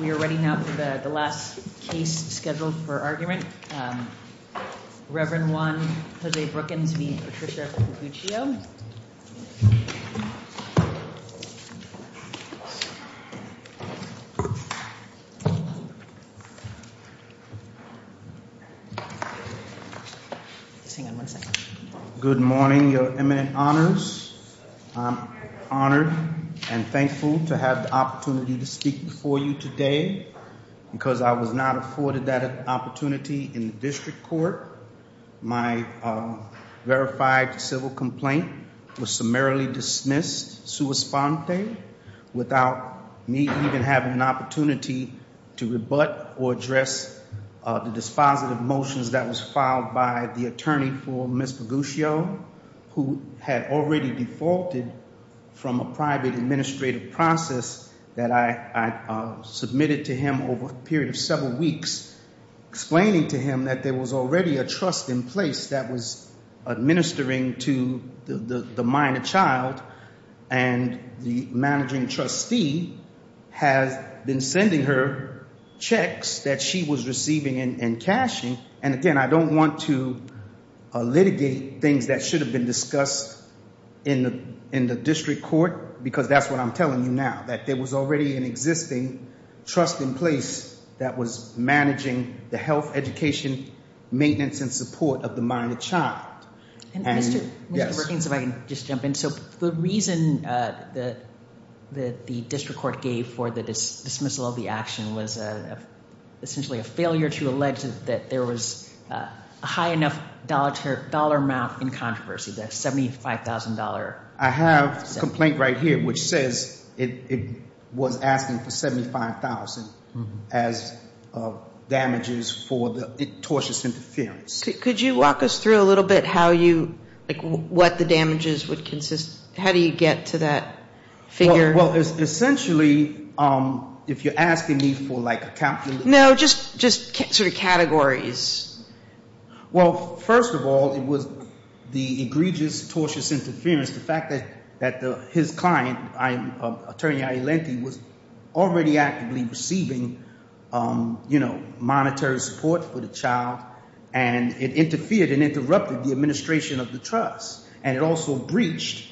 We are ready now for the last case scheduled for argument. Reverend Juan Jose Brookins v. Patricia Figuccio. Good morning, your eminent honors. I'm honored and thankful to have the opportunity for you today because I was not afforded that opportunity in the district court. My verified civil complaint was summarily dismissed sua sponte without me even having an opportunity to rebut or address the dispositive motions that was filed by the attorney for Ms. Figuccio who had already defaulted from a private administrative process that I submitted to him over a period of several weeks explaining to him that there was already a trust in place that was administering to the minor child and the managing trustee has been sending her checks that she was receiving and cashing and again I don't want to litigate things that should have been discussed in the district court because that's what I'm telling you now that there was already an existing trust in place that was managing the health, education, maintenance, and support of the minor child. The reason that the district court gave for the dismissal of the high enough dollar amount in controversy, that $75,000. I have a complaint right here which says it was asking for $75,000 as damages for the tortious interference. Could you walk us through a little bit how you, like what the damages would consist, how do you get to that figure? Well, essentially, if you're asking me for like a calculation. No, just sort of categories. Well, first of all, it was the egregious, tortious interference. The fact that his client, Attorney Iolenti, was already actively receiving monetary support for the child. And it interfered and interrupted the administration of the trust. And it also breached,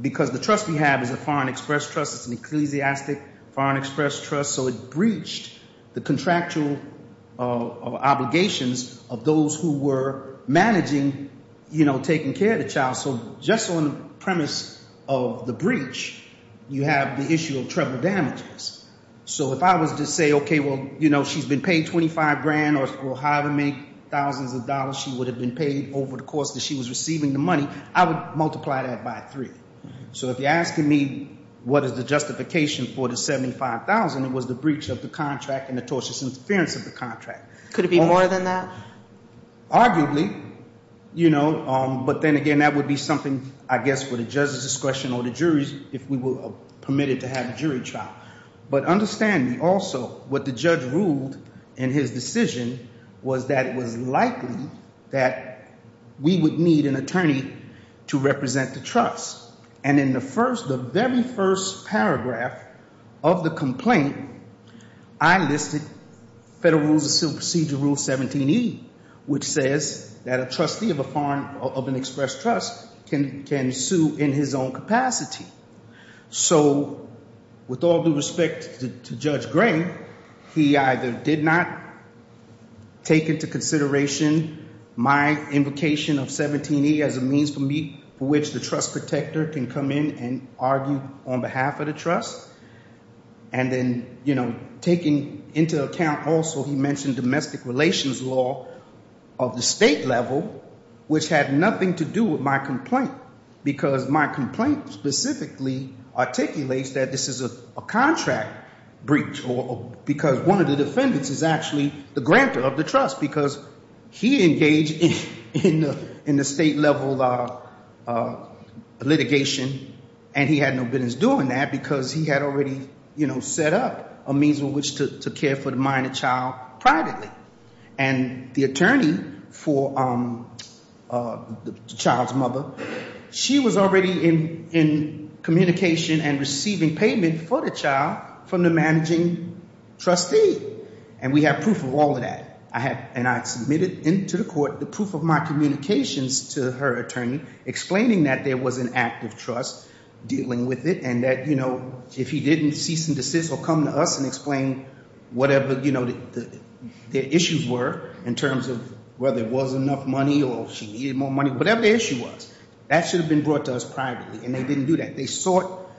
because the trust we have is a foreign express trust, it's an ecclesiastic foreign express trust. So it breached the contractual obligations of those who were managing taking care of the child. So just on the premise of the breach, you have the issue of treble damages. So if I was to say, okay, well, she's been paid 25 grand or however many thousands of dollars she would have been paid over the course that she was receiving the money. I would multiply that by three. So if you're asking me what is the justification for the 75,000, it was the breach of the contract and the tortious interference of the contract. Could it be more than that? Arguably, but then again, that would be something, I guess, for the judge's discretion or the jury's, if we were permitted to have a jury trial. But understand also, what the judge ruled in his decision was that it was likely that we would need an attorney to represent the trust. And in the very first paragraph of the complaint, I listed Federal Rules of Procedure Rule 17E, which says that a trustee of an express trust can sue in his own capacity. So with all due respect to Judge Gray, he either did not take into consideration my invocation of 17E as a means for which the trust protector can come in and argue on behalf of the trust. And then taking into account also, he mentioned domestic relations law of the state level, which had nothing to do with my complaint. Because my complaint specifically articulates that this is a contract breach. Because one of the defendants is actually the grantor of the trust, because he engaged in the state level litigation and he had no business doing that because he had already set up a means with which to care for the minor child privately. And the attorney for the child's mother, she was already in communication and receiving payment for the child from the managing trustee. And we have proof of all of that. And I submitted into the court the proof of my communications to her attorney, explaining that there was an active trust dealing with it, and that if he didn't cease and the issues were in terms of whether it was enough money or she needed more money, whatever the issue was. That should have been brought to us privately, and they didn't do that. They sought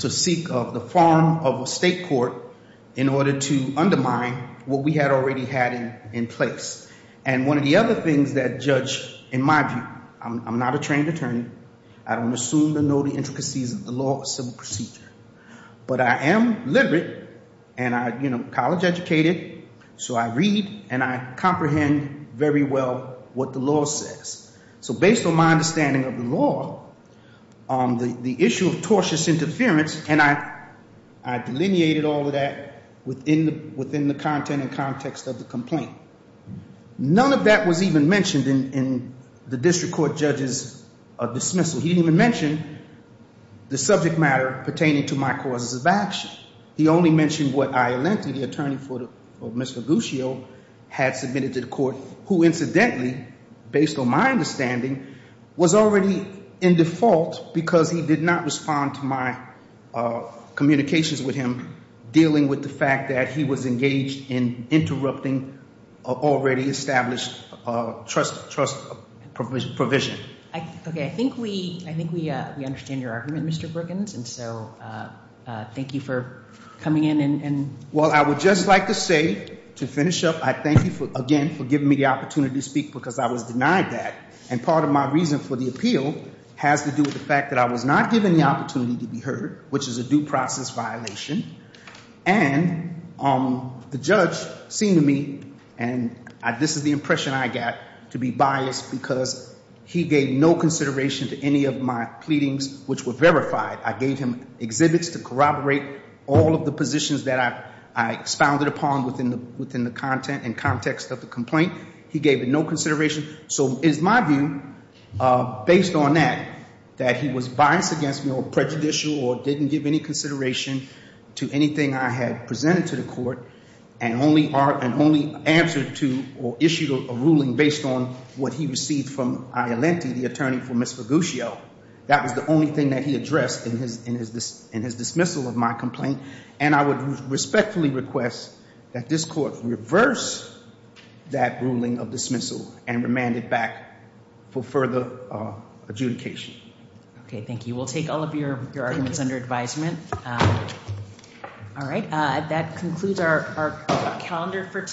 to seek of the form of a state court in order to undermine what we had already had in place. And one of the other things that judge, in my view, I'm not a trained attorney. I don't assume to know the intricacies of the law or civil procedure. But I am liberate and college educated, so I read and I comprehend very well what the law says. So based on my understanding of the law, the issue of tortious interference, and I delineated all of that within the content and context of the complaint. None of that was even mentioned in the district court judge's dismissal. So he didn't even mention the subject matter pertaining to my causes of action. He only mentioned what Iolanti, the attorney for Mr. Guccio, had submitted to the court. Who incidentally, based on my understanding, was already in default, because he did not respond to my communications with him. Dealing with the fact that he was engaged in interrupting already established trust provision. Okay, I think we understand your argument, Mr. Brookins, and so thank you for coming in and- Well, I would just like to say, to finish up, I thank you again for giving me the opportunity to speak because I was denied that. And part of my reason for the appeal has to do with the fact that I was not given the opportunity to be heard, which is a due process violation. And the judge seemed to me, and this is the impression I got, to be biased because he gave no consideration to any of my pleadings, which were verified. I gave him exhibits to corroborate all of the positions that I expounded upon within the content and context of the complaint. He gave it no consideration. So it is my view, based on that, that he was biased against me or prejudicial or didn't give any consideration to anything I had presented to the court. And only answered to or issued a ruling based on what he received from Iolenti, the attorney for Ms. Faguccio. That was the only thing that he addressed in his dismissal of my complaint. And I would respectfully request that this court reverse that ruling of dismissal and remand it back for further adjudication. Okay, thank you. We'll take all of your arguments under advisement. All right, that concludes our calendar for